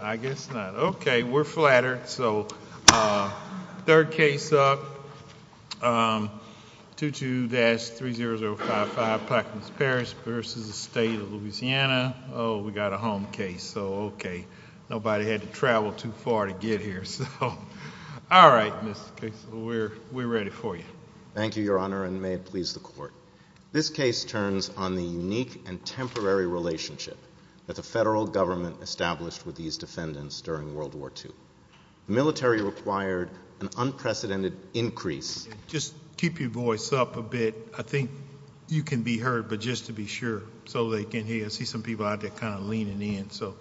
I guess not. Okay, we're flattered. So, third case up, 22-30055 Paquemines Parish v. the State of Louisiana. Oh, we got a home case. So, okay, nobody had to travel too far to get here. So, all right, Mr. Case, we're ready for you. Thank you, Your Honor, and may it please the Court. This case turns on the unique and temporary relationship that the federal government established with these defendants during World War II. The military required an unprecedented increase. Just keep your voice up a bit. I think you can be heard, but just to be sure so they can hear. I see some people out there kind of leaning in, so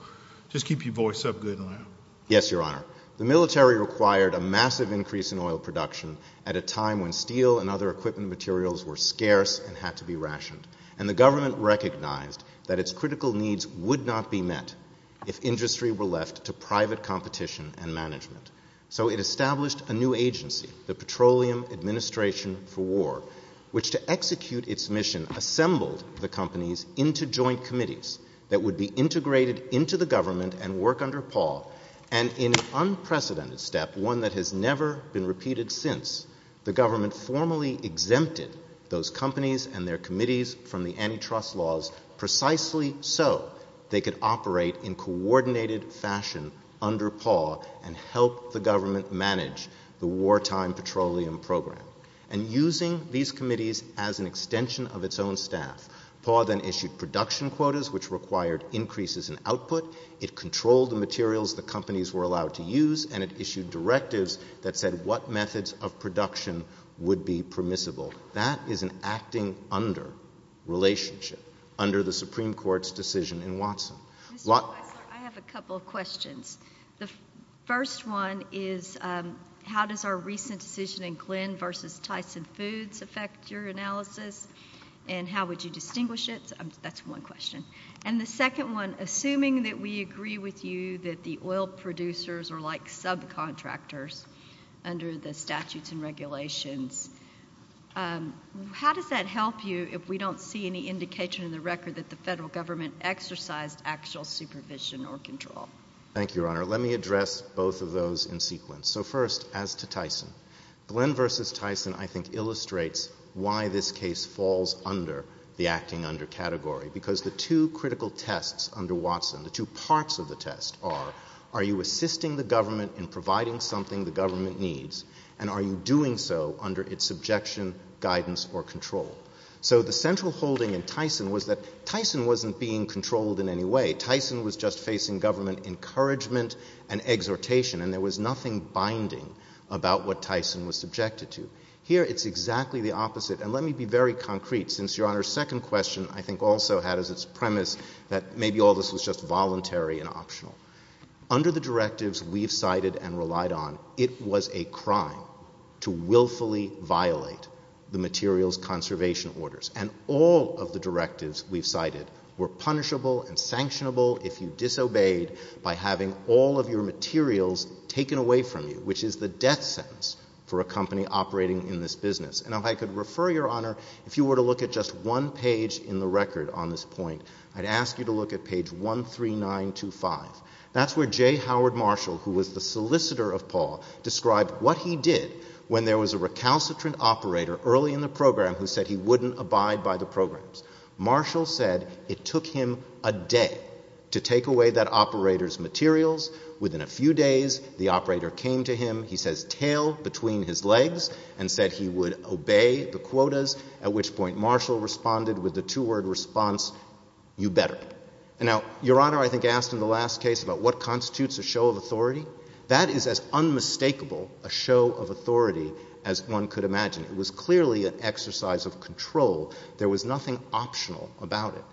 just keep your voice up good and loud. Yes, Your Honor. The military required a massive increase in oil production at a time when steel and other equipment materials were scarce and had to be rationed, and the government recognized that its critical needs would not be met if industry were left to private competition and management. So it established a new agency, the Petroleum Administration for War, which to execute its mission assembled the companies into joint committees that would be integrated into the government and work under Paul, and in an unprecedented step, one that has never been repeated since, the government formally exempted those companies and their committees from the antitrust laws precisely so they could operate in coordinated fashion under Paul and help the government manage the wartime petroleum program. And using these committees as an extension of its own staff, Paul then issued production quotas, which required increases in output. It controlled the materials the companies were allowed to use, and it issued directives that said what methods of production would be permissible. That is an acting under relationship under the Supreme Court's decision in Watson. Mr. Weisler, I have a couple of questions. The first one is, how does our recent decision in Glenn v. Tyson Foods affect your analysis, and how would you distinguish it? That's one question. And the second one, assuming that we agree with you that the oil producers are like subcontractors under the statutes and regulations, how does that help you if we don't see any indication in the record that the federal government exercised actual supervision or control? Thank you, Your Honor. Let me address both of those in sequence. So first, as to Tyson, Glenn v. Tyson, I think, illustrates why this case falls under the acting under category, because the two critical tests under Watson, the two parts of the test are, are you assisting the government in providing something the government needs, and are you doing so under its subjection, guidance, or control? So the central holding in Tyson was that Tyson wasn't being controlled in any way. Tyson was just facing government encouragement and exhortation, and there was nothing binding about what Tyson was subjected to. Here, it's exactly the opposite. And let me be very concrete, since Your Honor's second question, I think, also had as its premise that maybe all this was just voluntary and optional. Under the directives we've cited and relied on, it was a crime to willfully violate the materials conservation orders, and all of the directives we've cited were punishable and sanctionable if you disobeyed by having all of your materials taken away from you, which is the death sentence for a company operating in this business. And if I could refer, Your Honor, if you were to look at just one page in the record on this point, I'd ask you to look at page 13925. That's where J. Howard Marshall, who was the solicitor of Paul, described what he did when there was a recalcitrant operator early in the program who said he wouldn't abide by the programs. Marshall said it took him a day to take away that operator's materials. Within a few days, the operator came to him, he says, tailed between his legs and said he would obey the quotas, at which point Marshall responded with the two-word response, you better. And now, Your Honor, I think I asked in the last case about what constitutes a show of authority. That is as unmistakable a show of authority as one could imagine. It was clearly an exercise of control. There was nothing optional about it.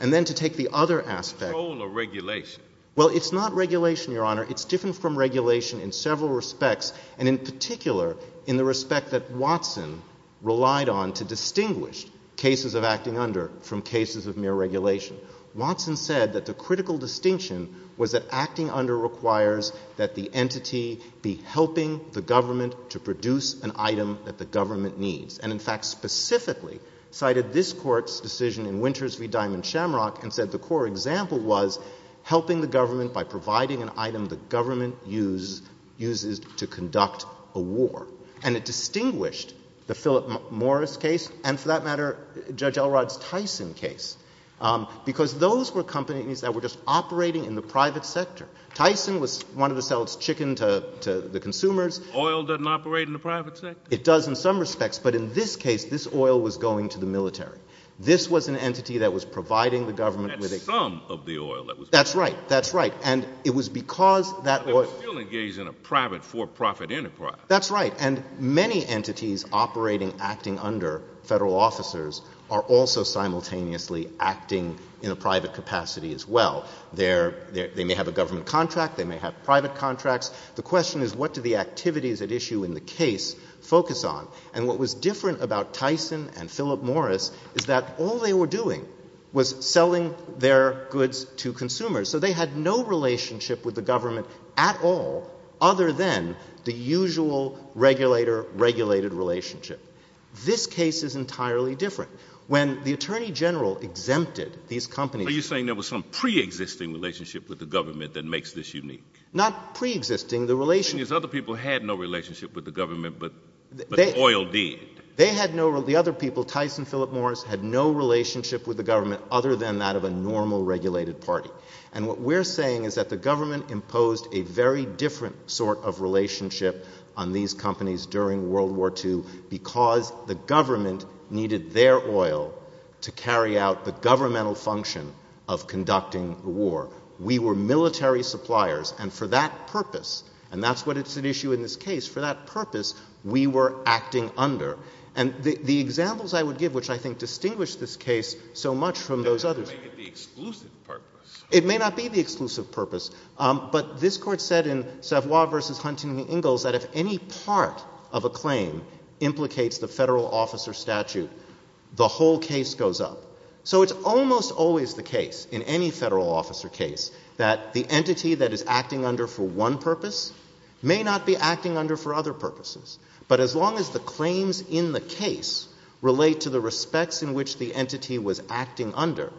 And then to take the other aspect... Control or regulation? Well, it's not regulation, Your Honor. It's different from regulation in several respects, and in particular in the respect that Watson relied on to distinguish cases of acting under from cases of mere regulation. Watson said that the critical distinction was that acting under requires that the entity be helping the government to produce an item that the government needs. And in fact, specifically cited this Court's decision in Winters v. Diamond-Shamrock and said the core example was helping the government by providing an entity to conduct a war. And it distinguished the Philip Morris case and, for that matter, Judge Elrod's Tyson case, because those were companies that were just operating in the private sector. Tyson was one of the cells chickened to the consumers. Oil doesn't operate in the private sector? It does in some respects, but in this case, this oil was going to the military. This was an entity that was providing the government with a... That's some of the oil that was... That's right. That's right. And it was because that oil... It was still engaged in a private for-profit enterprise. That's right. And many entities operating, acting under federal officers are also simultaneously acting in a private capacity as well. They may have a government contract. They may have private contracts. The question is what do the activities at issue in the case focus on? And what was different about Tyson and Philip Morris is that all they were doing was selling their goods to consumers. So they had no relationship with the government at all other than the usual regulator-regulated relationship. This case is entirely different. When the Attorney General exempted these companies... Are you saying there was some pre-existing relationship with the government that makes this unique? Not pre-existing. The relationship... You mean other people had no relationship with the government, but the oil did? They had no... The other people, Tyson, Philip Morris, had no relationship with the government other than that of a normal regulated party. And what we're saying is that the government imposed a very different sort of relationship on these companies during World War II because the government needed their oil to carry out the governmental function of conducting the war. We were military suppliers, and for that purpose, and that's what is at issue in this case, for that purpose, we were acting under. And the examples I would give, which I think distinguish this case so much from those others... It may not be the exclusive purpose. It may not be the exclusive purpose, but this Court said in Savoy v. Huntington-Ingalls that if any part of a claim implicates the federal officer statute, the whole case goes up. So it's almost always the case, in any federal officer case, that the entity that is acting under for one purpose may not be acting under for other purposes. But as long as the claims in the case relate to the respects in which the entity was acting under,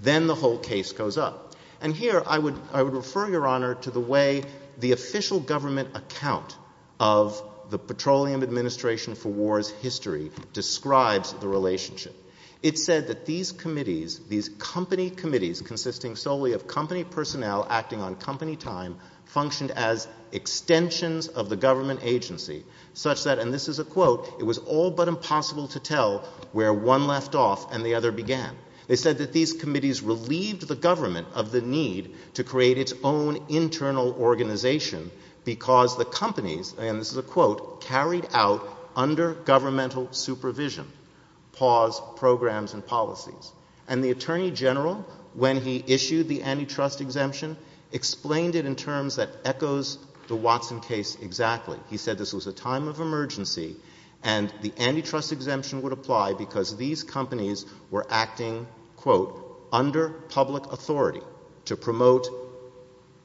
then the whole case goes up. And here I would refer, Your Honor, to the way the official government account of the Petroleum Administration for War's history describes the relationship. It said that these committees, these company committees consisting solely of company personnel acting on company time, functioned as extensions of the government agency such that, and this is a quote, it was all but impossible to tell where one left off and the other began. They said that these committees relieved the government of the need to create its own internal organization because the companies, and this is a quote, carried out under governmental supervision, pause, programs, and policies. And the Attorney General, when he issued the antitrust exemption, explained it in terms that echoes the Watson case exactly. He said this was a time of emergency and the antitrust exemption would apply because these companies were acting, quote, under public authority to promote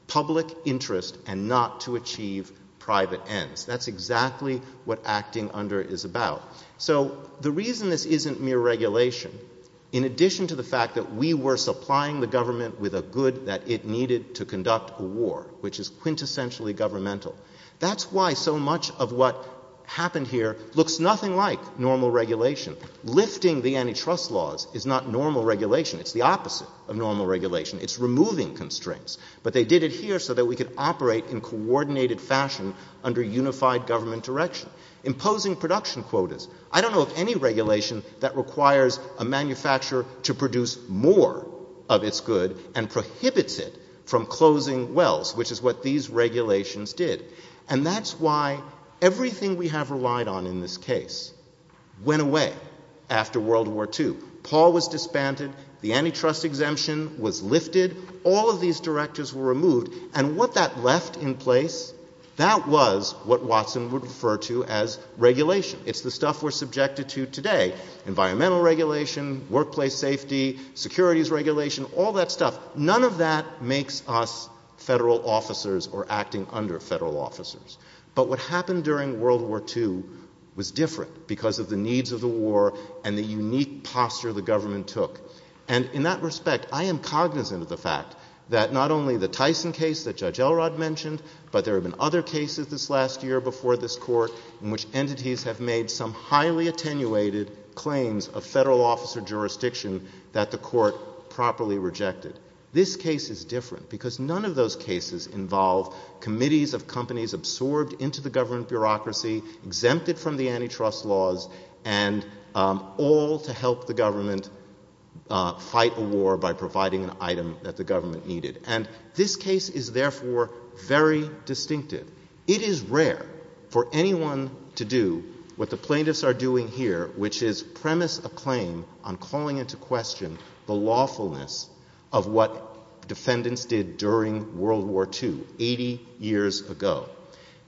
public interest and not to achieve private ends. That's exactly what acting under is about. So the reason this isn't mere regulation, in addition to the fact that we were supplying the government with a good that it needed to conduct a war, which is quintessentially governmental, that's why so much of what happened here looks nothing like normal regulation. Lifting the antitrust laws is not normal regulation. It's the opposite of normal regulation. It's removing constraints. But they did it here so that we could operate in coordinated fashion under unified government direction, imposing production quotas. I don't know of any regulation that requires a manufacturer to produce more of its good and prohibits it from closing wells, which is what these regulations did. And that's why everything we have relied on in this case went away after World War II. Paul was disbanded. The antitrust exemption was lifted. All of these directors were removed. And what that left in place, that was what Watson would refer to as regulation. It's the stuff we're subjected to today. Environmental regulation, workplace safety, securities regulation, all that stuff. None of that makes us federal officers or acting under federal officers. But what happened during World War II was different because of the needs of the war and the unique posture the government took. And in that respect, I am cognizant of the fact that not only the Tyson case that Judge Elrod mentioned, but there have been other cases this last year before this court in which entities have made some highly attenuated claims of federal officer jurisdiction that the court properly rejected. This case is different because none of those cases involve committees of companies absorbed into the government bureaucracy, exempted from the antitrust laws, and all to help the government fight a war by providing an item that the I want to move on to do what the plaintiffs are doing here, which is premise a claim on calling into question the lawfulness of what defendants did during World War II, 80 years ago.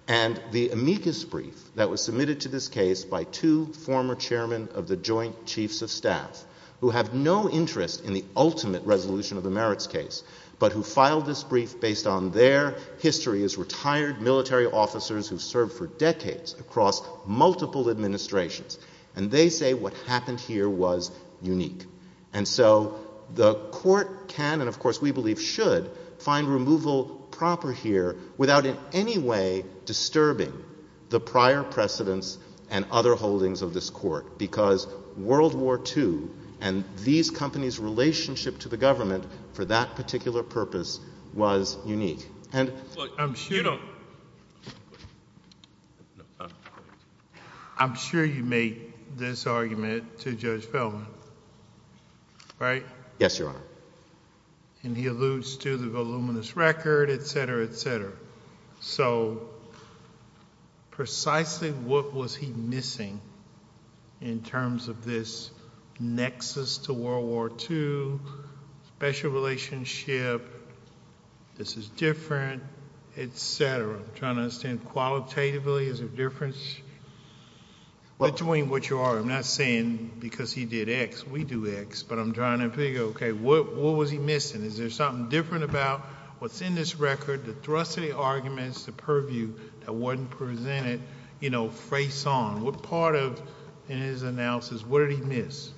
And the amicus brief that was submitted to this case by two former chairmen of the Joint Chiefs of Staff, who have no interest in the ultimate resolution of the merits case, but who filed this brief based on their history as retired military officers who served for decades across multiple administrations. And they say what happened here was unique. And so the court can, and of course we believe should, find removal proper here without in any way disturbing the prior precedents and other holdings of this court, because World War II and these companies' relationship to the government for that particular purpose was unique. And I'm sure you make this argument to Judge Feldman, right? Yes, Your Honor. And he alludes to the voluminous record, et cetera, et cetera. So precisely what was he missing in terms of this nexus to World War II, special relationship to the government this is different, et cetera. I'm trying to understand, qualitatively, is there a difference between what you are, I'm not saying because he did X, we do X, but I'm trying to figure, okay, what was he missing? Is there something different about what's in this record, the thrusting arguments, the purview that wasn't presented, you know, face on? What part of in his analysis, what did he miss?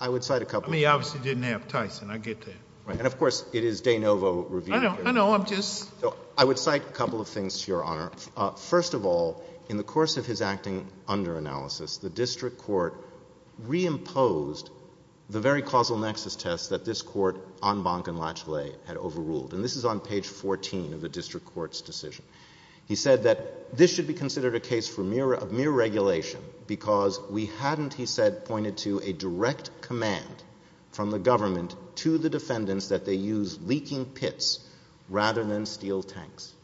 I would cite a couple. I mean, he obviously didn't have Tyson, I get that. And of course, it is de novo review. I know, I know, I'm just... I would cite a couple of things, Your Honor. First of all, in the course of his acting under analysis, the district court reimposed the very causal nexus test that this court on Bonk and Latchley had overruled. And this is on page 14 of the district court's decision. He said that this should be considered a case of mere regulation because we hadn't, he said, pointed to a direct command from the government to the defendants that they use leaking pits rather than steel tanks.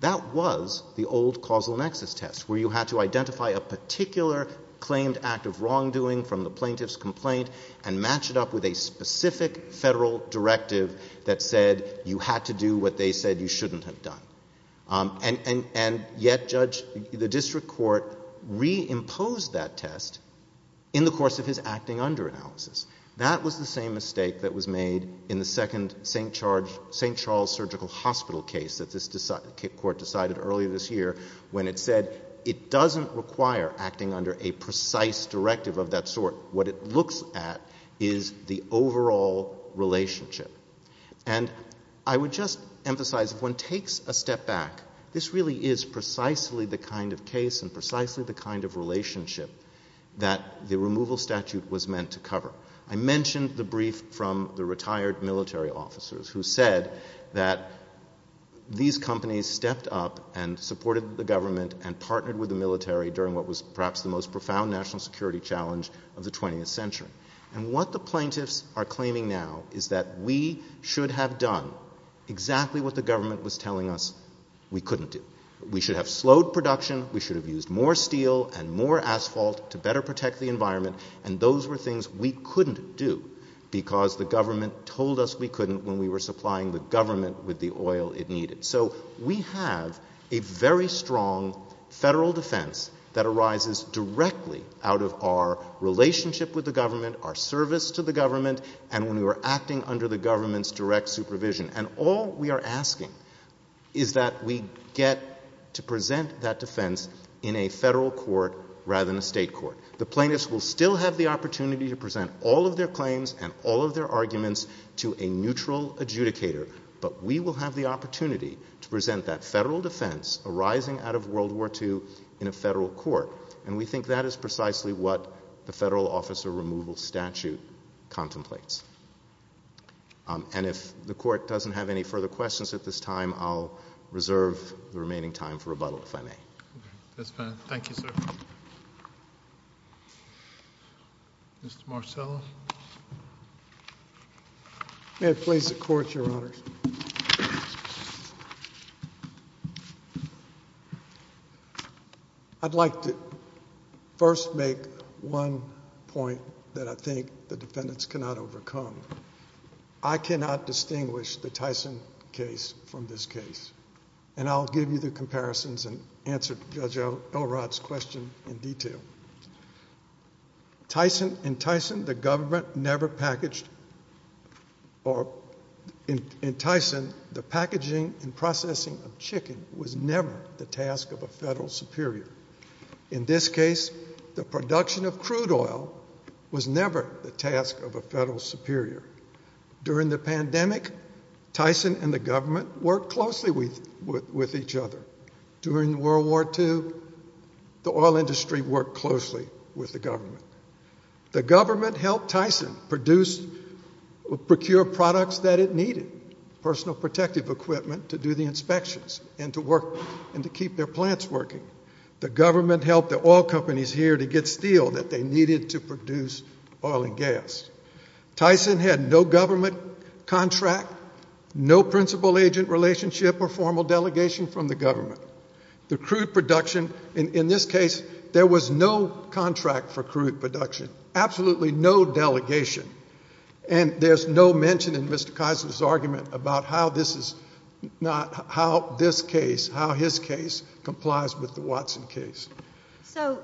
That was the old causal nexus test where you had to identify a particular claimed act of wrongdoing from the plaintiff's complaint and match it up with a specific federal directive that said you had to do what they said you shouldn't have done. And yet, Judge, the district court reimposed that test in the course of his acting under analysis. That was the same mistake that was made in the second St. Charles Surgical Hospital case that this court decided earlier this year when it said it doesn't require acting under a precise directive of that sort. What it looks at is the overall relationship. And I would just emphasize, if one takes a step back, this really is precisely the kind of case and precisely the kind of relationship that the removal statute was meant to cover. I mentioned the brief from the retired military officers who said that these companies stepped up and supported the government and partnered with the military during what was perhaps the most profound national security challenge of the 20th century. And what the plaintiffs are claiming now is that we should have done exactly what the government was telling us we couldn't do. We should have slowed production. We should have used more steel and more asphalt to better protect the environment. And those were things we couldn't do because the government told us we couldn't when we were supplying the government with the oil it needed. So we have a very strong federal defense that arises directly out of our relationship with the government, our service to the government, and when we were acting under the government's direct supervision. And all we are asking is that we get to present that defense in a federal court rather than a state court. The plaintiffs will still have the opportunity to present all of their claims and all of their arguments to a neutral adjudicator, but we will have the opportunity to present that federal defense arising out of World War II in a federal court. And we think that is precisely what the federal officer removal statute contemplates. And if the court doesn't have any further questions at this time, I'll reserve the remaining time for rebuttal, if I may. That's fine. Thank you, sir. Mr. Marcello. May it please the Court, Your Honors. I'd like to first make one point that I think the defendants cannot overcome. I cannot distinguish the Tyson case from this case. And I'll give you the comparisons and answer Judge Elrod's question in detail. In Tyson, the government never packaged or in Tyson, the packaging and processing of chicken was never the task of a federal superior. In this case, the production of crude oil was never the task of a federal superior. During the pandemic, Tyson and the government worked closely with each other. During World War II, the oil industry worked closely with the government. The government helped Tyson procure products that it needed, personal protective equipment to do the inspections and to work and to keep their plants working. The government helped the oil companies here to get steel that they needed to produce oil and gas. Tyson had no government contract, no principal agent relationship or formal delegation from the government. The crude production, in this case, there was no contract for crude production, absolutely no delegation. And there's no mention in Mr. Tyson's argument about how this is not, how this case, how his case complies with the Watson case. So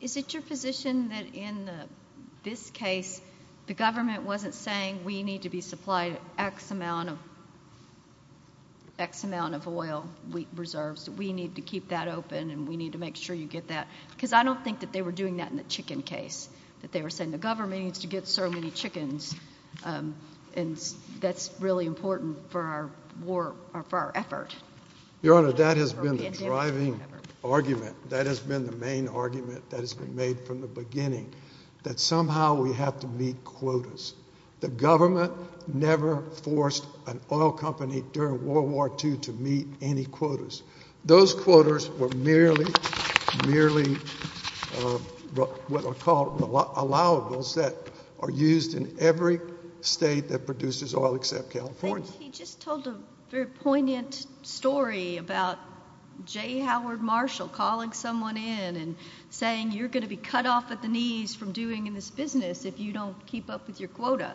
is it your position that in this case, the government wasn't saying we need to be supplied X amount of oil reserves, we need to keep that open, and we need to make sure you get that? Because I don't think that they were doing that in the chicken case, that they were saying the government needs to get so many chickens, and that's really important for our war, for our effort. Your Honor, that has been the driving argument. That has been the main argument that has been made from the beginning, that somehow we have to meet quotas. The government never forced an oil company during World War II to meet any quotas. Those quotas were merely, merely what are called allowables that are used in every state that produces oil except California. I think he just told a very poignant story about J. Howard Marshall calling someone in and saying you're going to be cut off at the knees from doing this business if you don't keep up with your quota.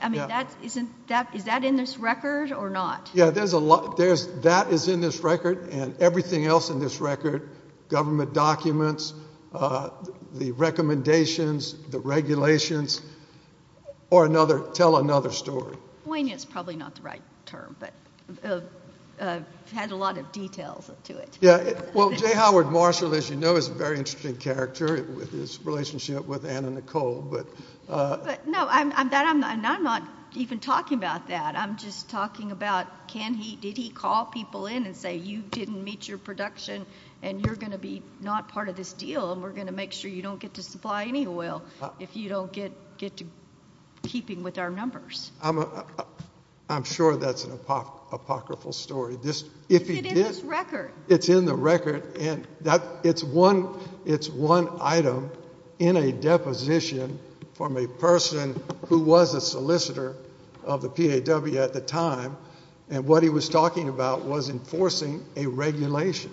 I mean, is that in this record or not? Yeah, that is in this record, and everything else in this record, government documents, the recommendations, the regulations, tell another story. Poignant is probably not the right term, but it had a lot of details to it. Yeah, well, J. Howard Marshall, as you know, is a very interesting character with his relationship with Anna Nicole, but... No, I'm not even talking about that. I'm just talking about can he, did he call people in and say you didn't meet your production and you're going to be not part of this deal and we're going to make sure you don't get to supply any oil if you don't get to keeping with our numbers. I'm sure that's an apocryphal story. It's in this record. It's in the record, and it's one item in a deposition from a person who was a solicitor of the PAW at the time, and what he was talking about was enforcing a regulation.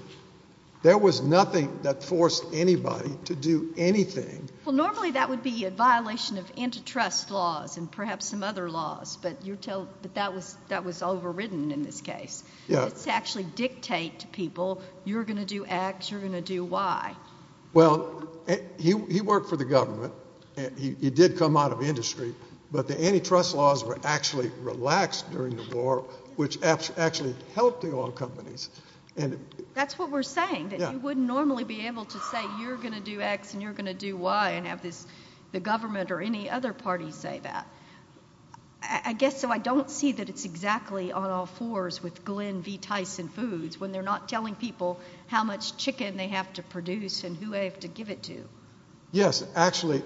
There was nothing that forced anybody to do anything. Well, normally that would be a violation of antitrust laws and perhaps some other laws, but that was overridden in this case. It's actually dictate to people, you're going to do X, you're going to do Y. Well, he worked for the government. He did come out of industry, but the antitrust laws were actually relaxed during the war, which actually helped the oil companies. That's what we're saying, that you wouldn't normally be able to say you're going to do X and you're going to do Y and have the government or any other party say that. I guess I don't see that it's exactly on all fours with Glenn V. Tyson Foods when they're not telling people how much chicken they have to produce and who they have to give it to. Yes. Actually,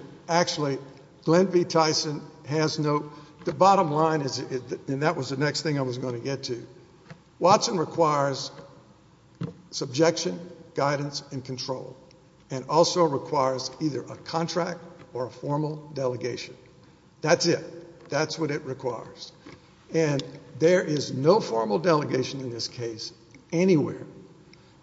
Glenn V. Tyson has no... The bottom line is, and that was the next thing I was going to get to, Watson requires subjection, guidance, and control, and also requires either a contract or a formal delegation. That's it. That's what it requires. There is no formal delegation in this case anywhere.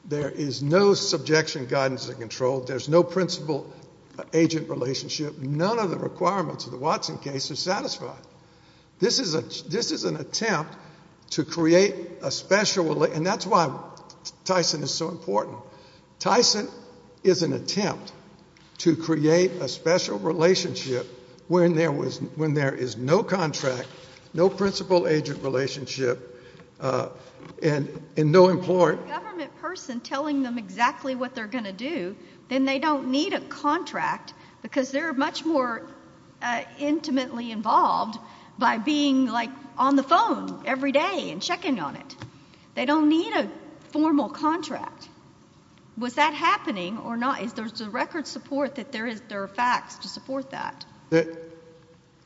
There is no subjection, guidance, and control. There's no principal-agent relationship. None of the requirements of the Watson case are satisfied. This is an attempt to create a special... That's why Tyson is so important. Tyson is an attempt to create a special relationship when there is no contract, no principal-agent relationship, and no... If it's a government person telling them exactly what they're going to do, then they don't need a contract because they're much more intimately involved by being on the phone every day and checking on it. They don't need a formal contract. Was that happening or not? Is there a record support that there are facts to support that?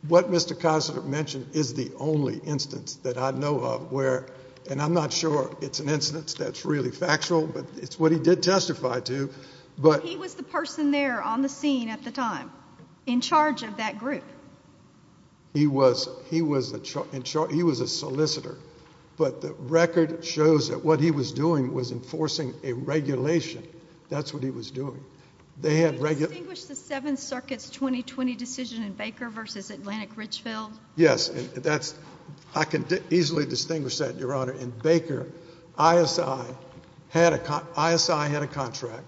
What Mr. Kisler mentioned is the only instance that I know of where, and I'm not sure it's an instance that's really factual, but it's what he did testify to, but... He was the person there on the scene at the time in charge of that group. He was a solicitor, but the record shows that what he was doing was enforcing a regulation. That's what he was doing. They had... Can you distinguish the Seventh Circuit's 2020 decision in Baker versus Atlantic Richfield? Yes. I can easily distinguish that, Your Honor. In Baker, ISI had a contract,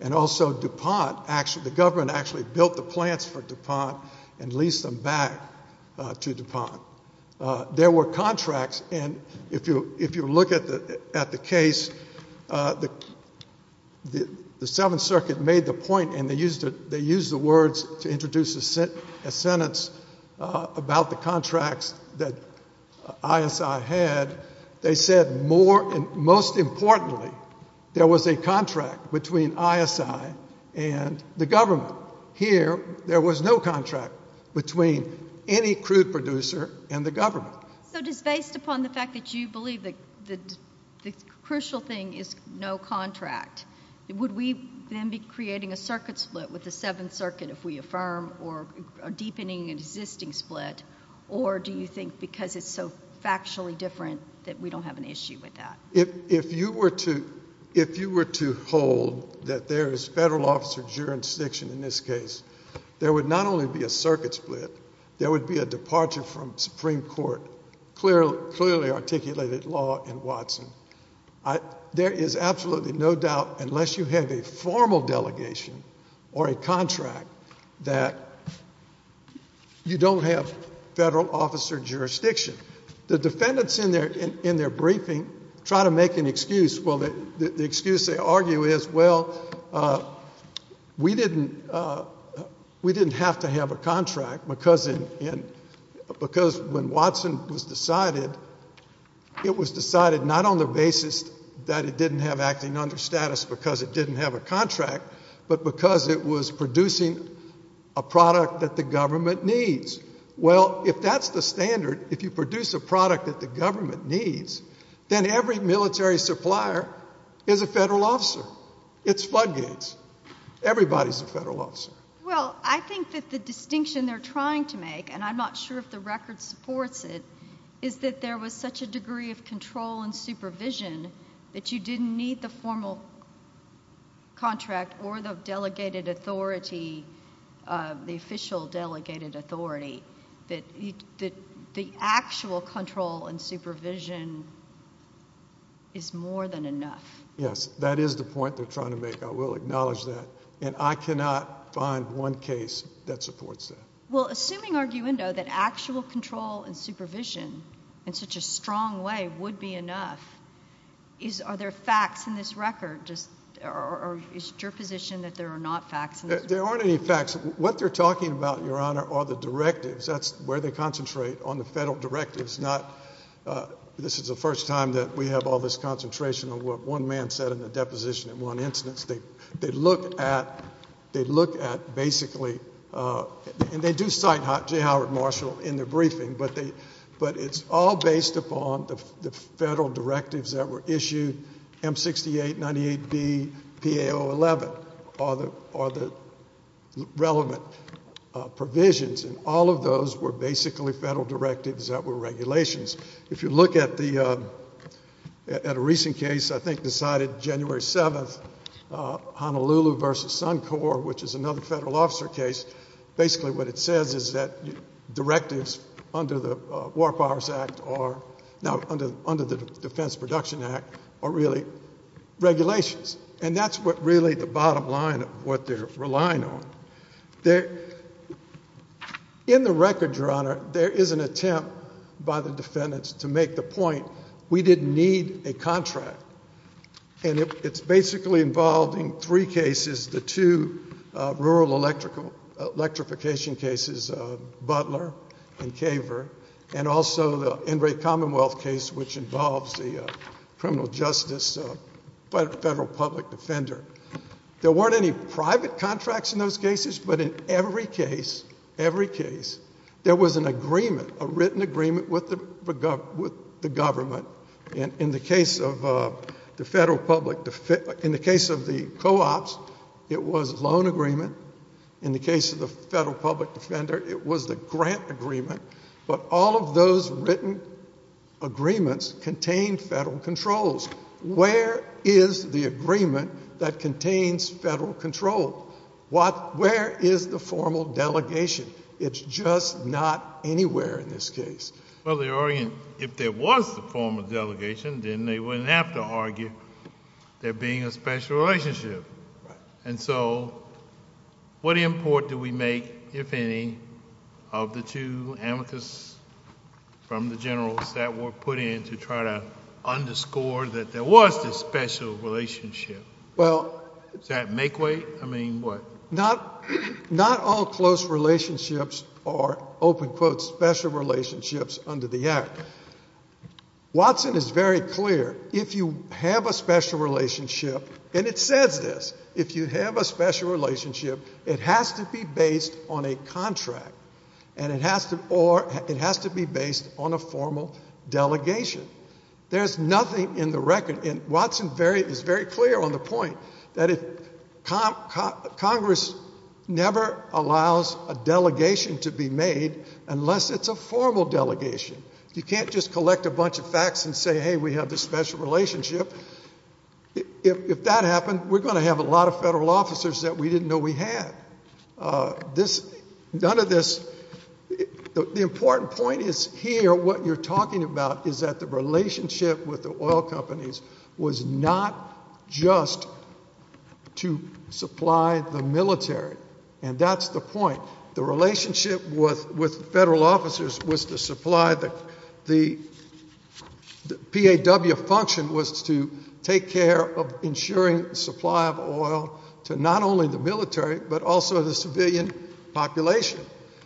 and also DuPont, the government actually built the plants for DuPont and leased them back to DuPont. There were contracts, and if you look at the case, the Seventh Circuit made the point, and they used the words to introduce a sentence about the contracts that ISI had. They said, most importantly, there was a contract between ISI and the government. Here, there was no contract between any crude producer and the government. Based upon the fact that you believe that the crucial thing is no contract, would we then be creating a circuit split with the Seventh Circuit if we affirm or are deepening an existing split, or do you think because it's so factually different that we don't have an issue with that? If you were to hold that there is federal officer jurisdiction in this case, there would not only be a circuit split, there would be a departure from Supreme Court clearly articulated law in Watson. There is absolutely no doubt, unless you have a formal delegation or a contract, that you don't have federal officer jurisdiction. The defendants in their briefing try to make an excuse. The excuse they argue is, well, we didn't have to have a contract because when Watson was decided, it was decided not on the basis that it didn't have acting under status because it didn't have a contract, but because it was producing a product that the government needs. Well, if that's the standard, if you produce a product that the government needs, then every military supplier is a federal officer. It's floodgates. Everybody's a federal officer. Well, I think that the distinction they're trying to make, and I'm not sure if the record supports it, is that there was such a degree of control and supervision that you didn't need the formal contract or the delegated authority, the official delegated authority, that the actual control and supervision is more than enough. Yes, that is the point they're trying to make. I will acknowledge that, and I cannot find one case that supports that. Well, assuming, arguendo, that actual control and supervision in such a strong way would be enough, are there facts in this record, or is it your position that there are not facts in this record? There aren't any facts. What they're talking about, Your Honor, are the directives. That's where they concentrate, on the federal directives, not this is the first time that we have all this concentration of what one man said in the deposition in one instance. They look at basically, and they do cite J. Howard Marshall in the briefing, but it's all based upon the federal directives that were issued, M68, 98B, PA011 are the relevant provisions, and all of those were basically federal directives that were regulations. If you look at a recent case, I think decided January 7th, Honolulu v. Suncor, which is another federal officer case, basically what it says is that directives under the War Powers Act, now under the Defense Production Act, are really regulations, and that's what really the bottom line of what they're relying on. In the record, Your Honor, there is an attempt by the defendants to make the point we didn't need a contract, and it's basically involved in three cases, the two rural electrification cases, Butler and Caver, and also the Enright Commonwealth case, which involves the criminal justice federal public defender. There weren't any private contracts in those cases, but in every case, every case, there was an agreement, a written agreement with the government. In the case of the co-ops, it was a loan agreement. In the case of the federal public defender, it was the grant agreement. But all of those written agreements contained federal controls. Where is the agreement that contains federal control? Where is the formal delegation? It's just not anywhere in this case. Well, they're arguing if there was the formal delegation, then they wouldn't have to argue there being a special relationship. And so what import do we make, if any, of the two amicus from the generals that were put in to try to underscore that there was this special relationship? Does that make weight? I mean, what? Not all close relationships are, open quote, special relationships under the Act. Watson is very clear. If you have a special relationship, and it says this, if you have a special relationship, it has to be based on a contract, or it has to be based on a formal delegation. There's nothing in the record, and Watson is very clear on the point, that Congress never allows a delegation to be made unless it's a formal delegation. You can't just collect a bunch of facts and say, hey, we have this special relationship. If that happened, we're going to have a lot of federal officers that we didn't know we had. This, none of this, the important point is here, what you're talking about, is that the relationship with the oil companies was not just to supply the military, and that's the point. The relationship with federal officers was to supply the, the PAW function was to take care of ensuring supply of oil to not only the military, but also the civilian population.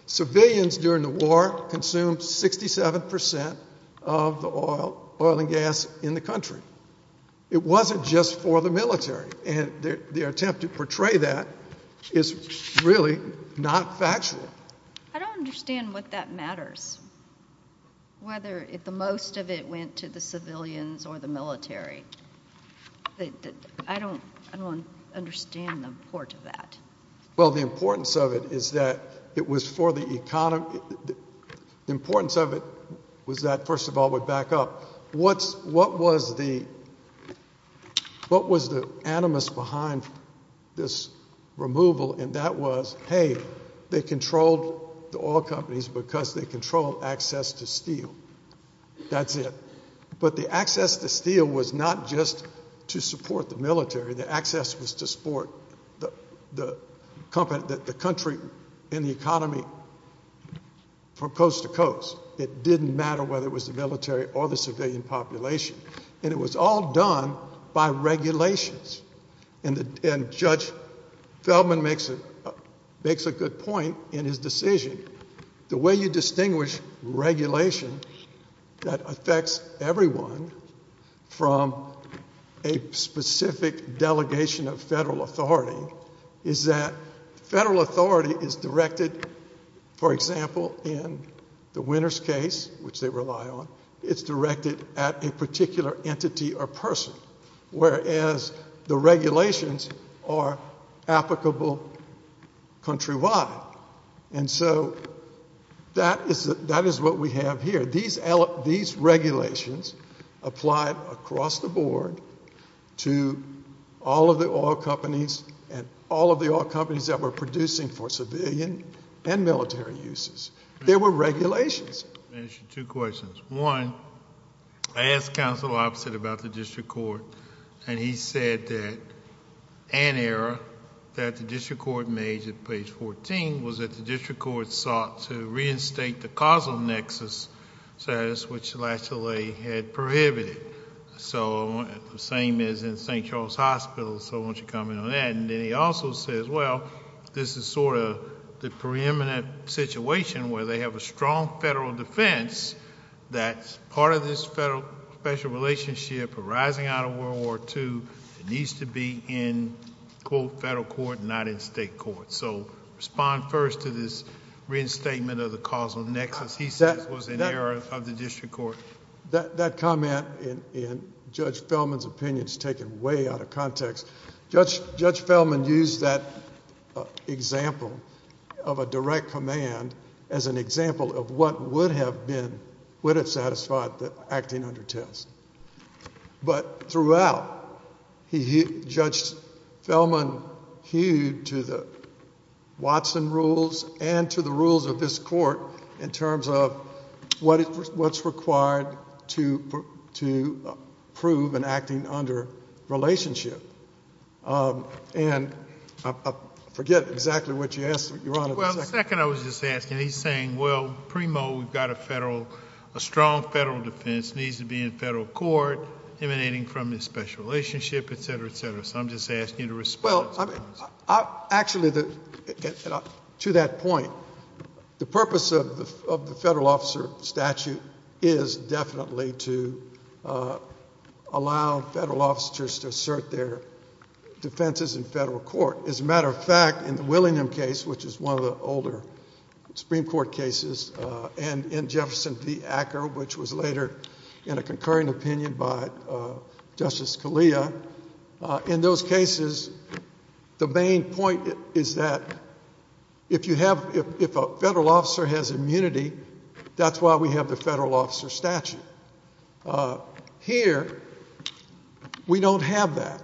Civilians during the war consumed 67% of the oil and gas in the country. It wasn't just for the military, and their attempt to portray that is really not factual. I don't understand what that matters, whether the most of it went to the civilians or the military. I don't understand the import of that. Well, the importance of it is that it was for the economy. The importance of it was that, first of all, we back up. What was the animus behind this removal? And that was, hey, they controlled the oil companies because they controlled access to steel. That's it. But the access to steel was not just to support the military. The access was to support the country and the economy from coast to coast. It didn't matter whether it was the military or the civilian population. And it was all done by regulations. And Judge Feldman makes a good point in his decision. The way you distinguish regulation that affects everyone from a specific delegation of federal authority is that federal authority is directed, for example, in the Winters case, which they rely on, it's directed at a particular entity or person, whereas the regulations are applicable countrywide. And so that is what we have here. These regulations apply across the board to all of the oil companies and all of the oil companies that were producing for civilian and military uses. There were regulations. I have two questions. One, I asked Counsel Oppsitt about the district court, and he said that an error that the district court made at page 14 was that the district court sought to reinstate the causal nexus status, which the last delay had prohibited. The same is in St. Charles Hospital, so I want you to comment on that. And then he also says, well, this is sort of the preeminent situation where they have a strong federal defense that part of this federal special relationship arising out of World War II needs to be in, quote, federal court and not in state court. So respond first to this reinstatement of the causal nexus. He says it was an error of the district court. That comment in Judge Fellman's opinion is taken way out of context. Judge Fellman used that example of a direct command as an example of what would have been, would have satisfied the acting under test. But throughout, Judge Fellman hewed to the Watson rules and to the rules of this court in terms of what's required to prove an acting under relationship. And I forget exactly what you asked, Your Honor. Well, the second I was just asking, he's saying, well, a strong federal defense needs to be in federal court emanating from this special relationship, et cetera, et cetera. So I'm just asking you to respond. Well, actually, to that point, the purpose of the federal officer statute is definitely to allow federal officers to assert their defenses in federal court. As a matter of fact, in the Willingham case, which is one of the older Supreme Court cases, and in Jefferson v. Acker, which was later in a concurring opinion by Justice Scalia, in those cases, the main point is that if you have, if a federal officer has immunity, that's why we have the federal officer statute. Here, we don't have that.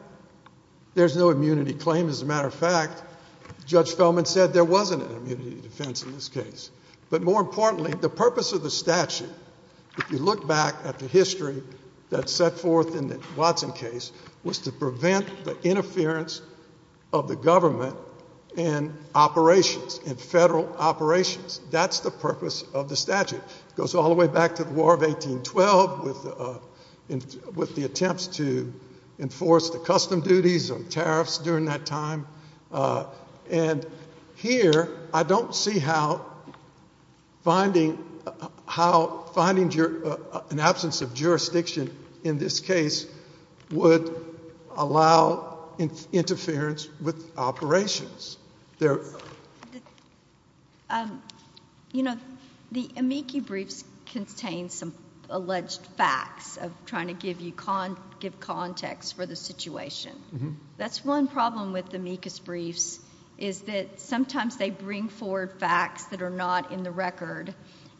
There's no immunity claim. As a matter of fact, Judge Fellman said there wasn't an immunity defense in this case. But more importantly, the purpose of the statute, if you look back at the history that's set forth in the Watson case, was to prevent the interference of the government in operations, in federal operations. That's the purpose of the statute. It goes all the way back to the War of 1812 with the attempts to enforce the custom duties and tariffs during that time. And here, I don't see how finding an absence of jurisdiction in this case would allow interference with operations. You know, the amicus briefs contain some alleged facts of trying to give context for the situation. That's one problem with amicus briefs, is that sometimes they bring forward facts that are not in the record,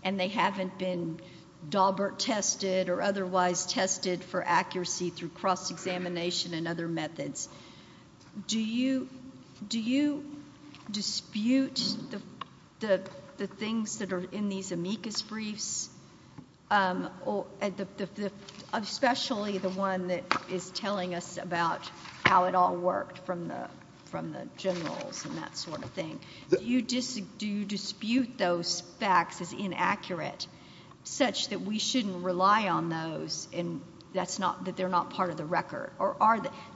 and they haven't been Daubert tested or otherwise tested for accuracy through cross-examination and other methods. Do you dispute the things that are in these amicus briefs, especially the one that is telling us about how it all worked from the generals and that sort of thing? Do you dispute those facts as inaccurate, such that we shouldn't rely on those and that they're not part of the record? Do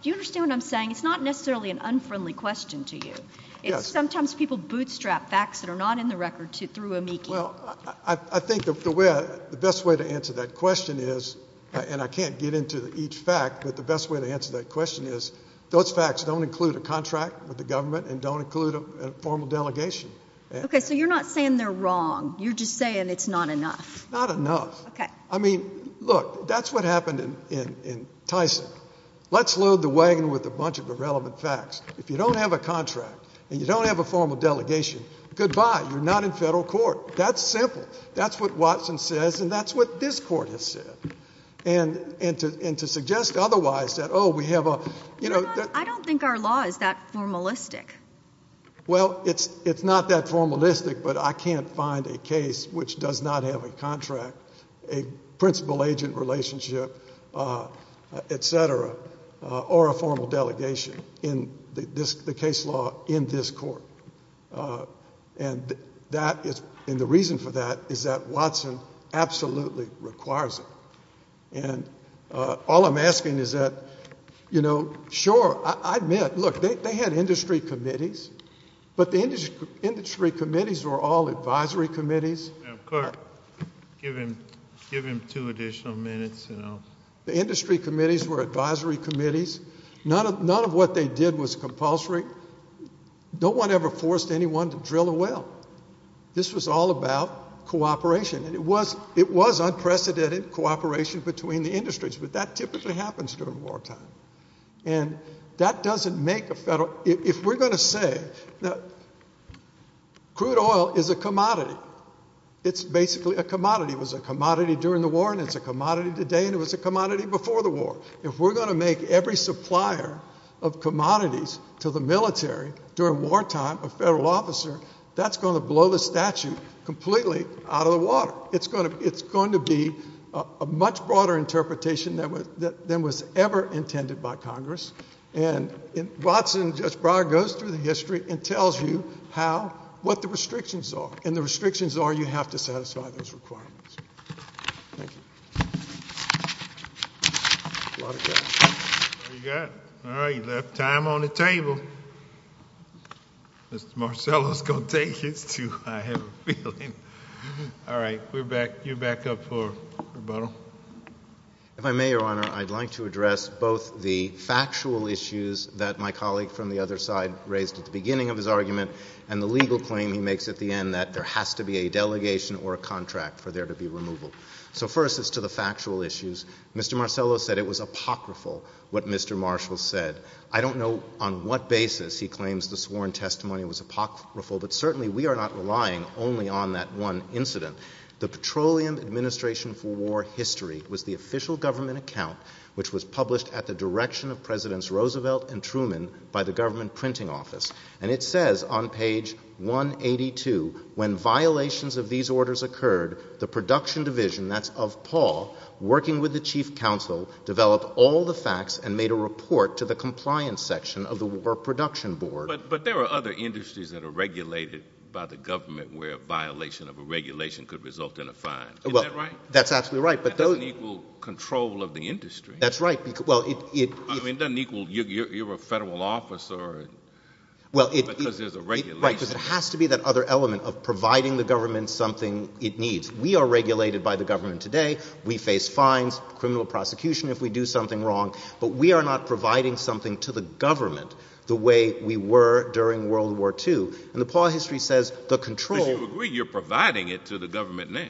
you understand what I'm saying? It's not necessarily an unfriendly question to you. It's sometimes people bootstrap facts that are not in the record through amicus. Well, I think the best way to answer that question is, and I can't get into each fact, but the best way to answer that question is those facts don't include a contract with the government and don't include a formal delegation. Okay, so you're not saying they're wrong. You're just saying it's not enough. Not enough. Okay. I mean, look, that's what happened in Tyson. Let's load the wagon with a bunch of irrelevant facts. If you don't have a contract and you don't have a formal delegation, goodbye. You're not in federal court. That's simple. That's what Watson says, and that's what this court has said. And to suggest otherwise that, oh, we have a – I don't think our law is that formalistic. Well, it's not that formalistic, but I can't find a case which does not have a contract, a principal-agent relationship, et cetera, or a formal delegation in the case law in this court. And that is – and the reason for that is that Watson absolutely requires it. And all I'm asking is that, you know, sure, I admit. Look, they had industry committees, but the industry committees were all advisory committees. Give him two additional minutes. The industry committees were advisory committees. None of what they did was compulsory. No one ever forced anyone to drill a well. This was all about cooperation, and it was unprecedented cooperation between the industries, but that typically happens during wartime. And that doesn't make a federal – if we're going to say that crude oil is a commodity, it's basically a commodity. It was a commodity during the war, and it's a commodity today, and it was a commodity before the war. If we're going to make every supplier of commodities to the military during wartime a federal officer, that's going to blow the statute completely out of the water. It's going to be a much broader interpretation than was ever intended by Congress. And Watson, Judge Breyer, goes through the history and tells you how – what the restrictions are. And the restrictions are you have to satisfy those requirements. Thank you. A lot of cash. What do you got? All right, you left time on the table. Mr. Marcello is going to take it, too. All right, you're back up for rebuttal. If I may, Your Honor, I'd like to address both the factual issues that my colleague from the other side raised at the beginning of his argument and the legal claim he makes at the end that there has to be a delegation or a contract for there to be removal. So first as to the factual issues, Mr. Marcello said it was apocryphal what Mr. Marshall said. I don't know on what basis he claims the sworn testimony was apocryphal, but certainly we are not relying only on that one incident. The Petroleum Administration for War History was the official government account which was published at the direction of Presidents Roosevelt and Truman by the government printing office. And it says on page 182, when violations of these orders occurred, the production division, that's of Paul, working with the chief counsel, developed all the facts and made a report to the compliance section of the war production board. But there are other industries that are regulated by the government where a violation of a regulation could result in a fine. Is that right? That's absolutely right. That doesn't equal control of the industry. That's right. I mean it doesn't equal you're a federal officer because there's a regulation. Right, because it has to be that other element of providing the government something it needs. We are regulated by the government today. We face fines, criminal prosecution if we do something wrong. But we are not providing something to the government the way we were during World War II. And the Paul history says the control. But you agree you're providing it to the government now.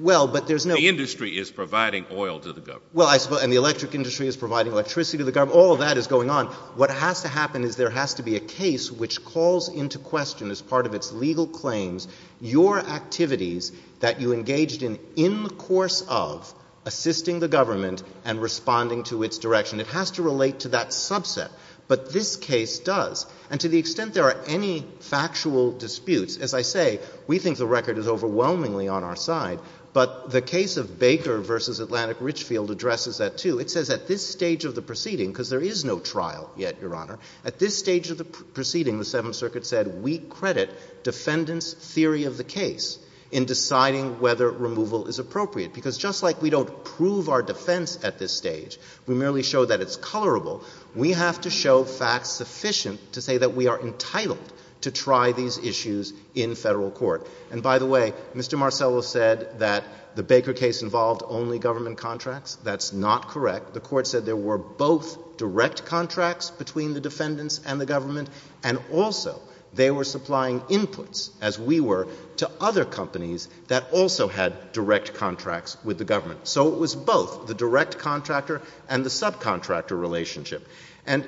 Well, but there's no. The industry is providing oil to the government. Well, and the electric industry is providing electricity to the government. All of that is going on. What has to happen is there has to be a case which calls into question as part of its legal claims your activities that you engaged in in the course of assisting the government and responding to its direction. It has to relate to that subset. But this case does. And to the extent there are any factual disputes, as I say, we think the record is overwhelmingly on our side. But the case of Baker v. Atlantic Richfield addresses that too. It says at this stage of the proceeding, because there is no trial yet, Your Honor, at this stage of the proceeding the Seventh Circuit said we credit defendants' theory of the case in deciding whether removal is appropriate. Because just like we don't prove our defense at this stage, we merely show that it's colorable, we have to show facts sufficient to say that we are entitled to try these issues in federal court. And by the way, Mr. Marcello said that the Baker case involved only government contracts. That's not correct. The court said there were both direct contracts between the defendants and the government, and also they were supplying inputs, as we were, to other companies that also had direct contracts with the government. So it was both the direct contractor and the subcontractor relationship. And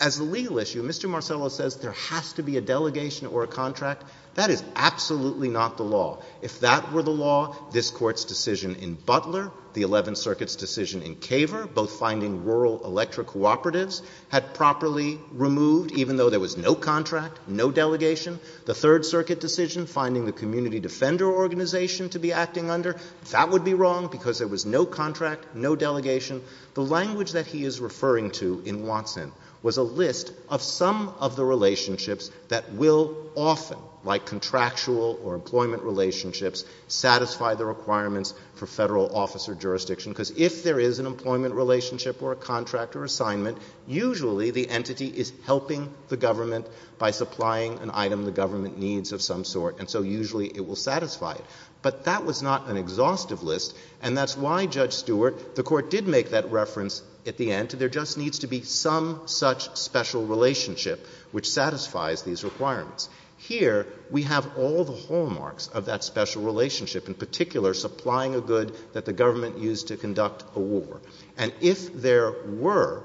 as a legal issue, Mr. Marcello says there has to be a delegation or a contract. That is absolutely not the law. If that were the law, this Court's decision in Butler, the Eleventh Circuit's decision in Caver, both finding rural electric cooperatives had properly removed, even though there was no contract, no delegation. The Third Circuit decision, finding the community defender organization to be acting under, that would be wrong because there was no contract, no delegation. The language that he is referring to in Watson was a list of some of the relationships that will often, like contractual or employment relationships, satisfy the requirements for Federal office or jurisdiction, because if there is an employment relationship or a contract or assignment, usually the entity is helping the government by supplying an item the government needs of some sort, and so usually it will satisfy it. But that was not an exhaustive list, and that's why, Judge Stewart, the Court did make that reference at the end. There just needs to be some such special relationship which satisfies these requirements. Here we have all the hallmarks of that special relationship, in particular supplying a good that the government used to conduct a war. And if there were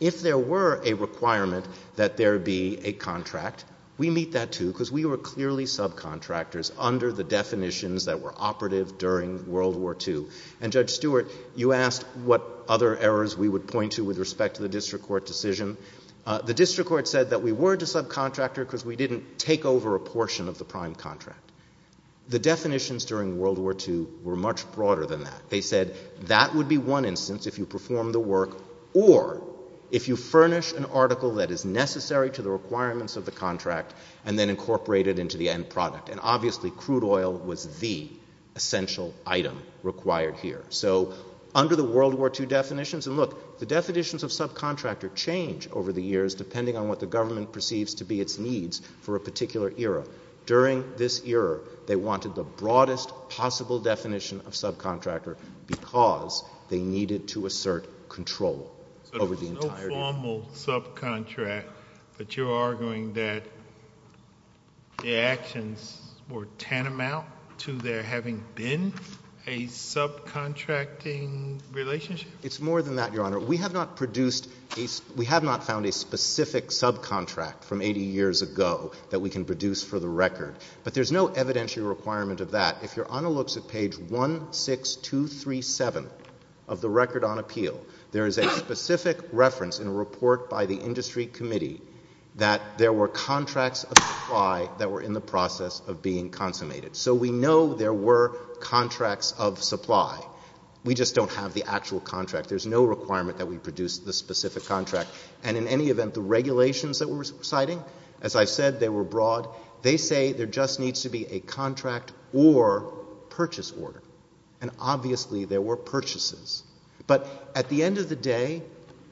a requirement that there be a contract, we meet that too, because we were clearly subcontractors under the definitions that were operative during World War II. And, Judge Stewart, you asked what other errors we would point to with respect to the district court decision. The district court said that we were to subcontractor because we didn't take over a portion of the prime contract. The definitions during World War II were much broader than that. They said that would be one instance if you perform the work or if you furnish an article that is necessary to the requirements of the contract and then incorporate it into the end product. And obviously crude oil was the essential item required here. So under the World War II definitions, and look, the definitions of subcontractor change over the years depending on what the government perceives to be its needs for a particular era. During this era, they wanted the broadest possible definition of subcontractor because they needed to assert control over the entire district. But you're arguing that the actions were tantamount to there having been a subcontracting relationship? It's more than that, Your Honor. We have not found a specific subcontract from 80 years ago that we can produce for the record. But there's no evidentiary requirement of that. If you're on a look at page 16237 of the Record on Appeal, there is a specific reference in a report by the Industry Committee that there were contracts of supply that were in the process of being consummated. So we know there were contracts of supply. We just don't have the actual contract. There's no requirement that we produce the specific contract. And in any event, the regulations that we're citing, as I said, they were broad. They say there just needs to be a contract or purchase order. And obviously there were purchases. But at the end of the day,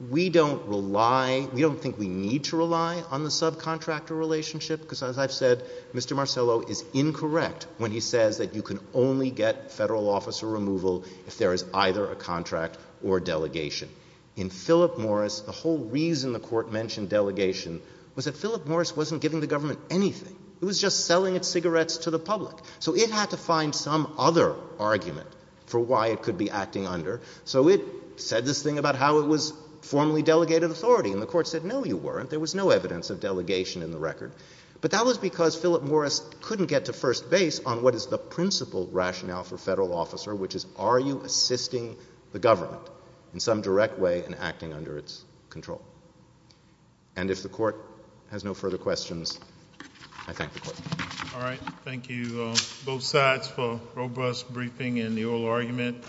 we don't rely, we don't think we need to rely on the subcontractor relationship because, as I've said, Mr. Marcello is incorrect when he says that you can only get federal officer removal if there is either a contract or delegation. In Philip Morris, the whole reason the Court mentioned delegation was that Philip Morris wasn't giving the government anything. It was just selling its cigarettes to the public. So it had to find some other argument for why it could be acting under. So it said this thing about how it was formally delegated authority. And the Court said, no, you weren't. There was no evidence of delegation in the record. But that was because Philip Morris couldn't get to first base on what is the principal rationale for federal officer, which is are you assisting the government in some direct way in acting under its control? And if the Court has no further questions, I thank the Court. All right. Thank you, both sides, for a robust briefing in the oral argument.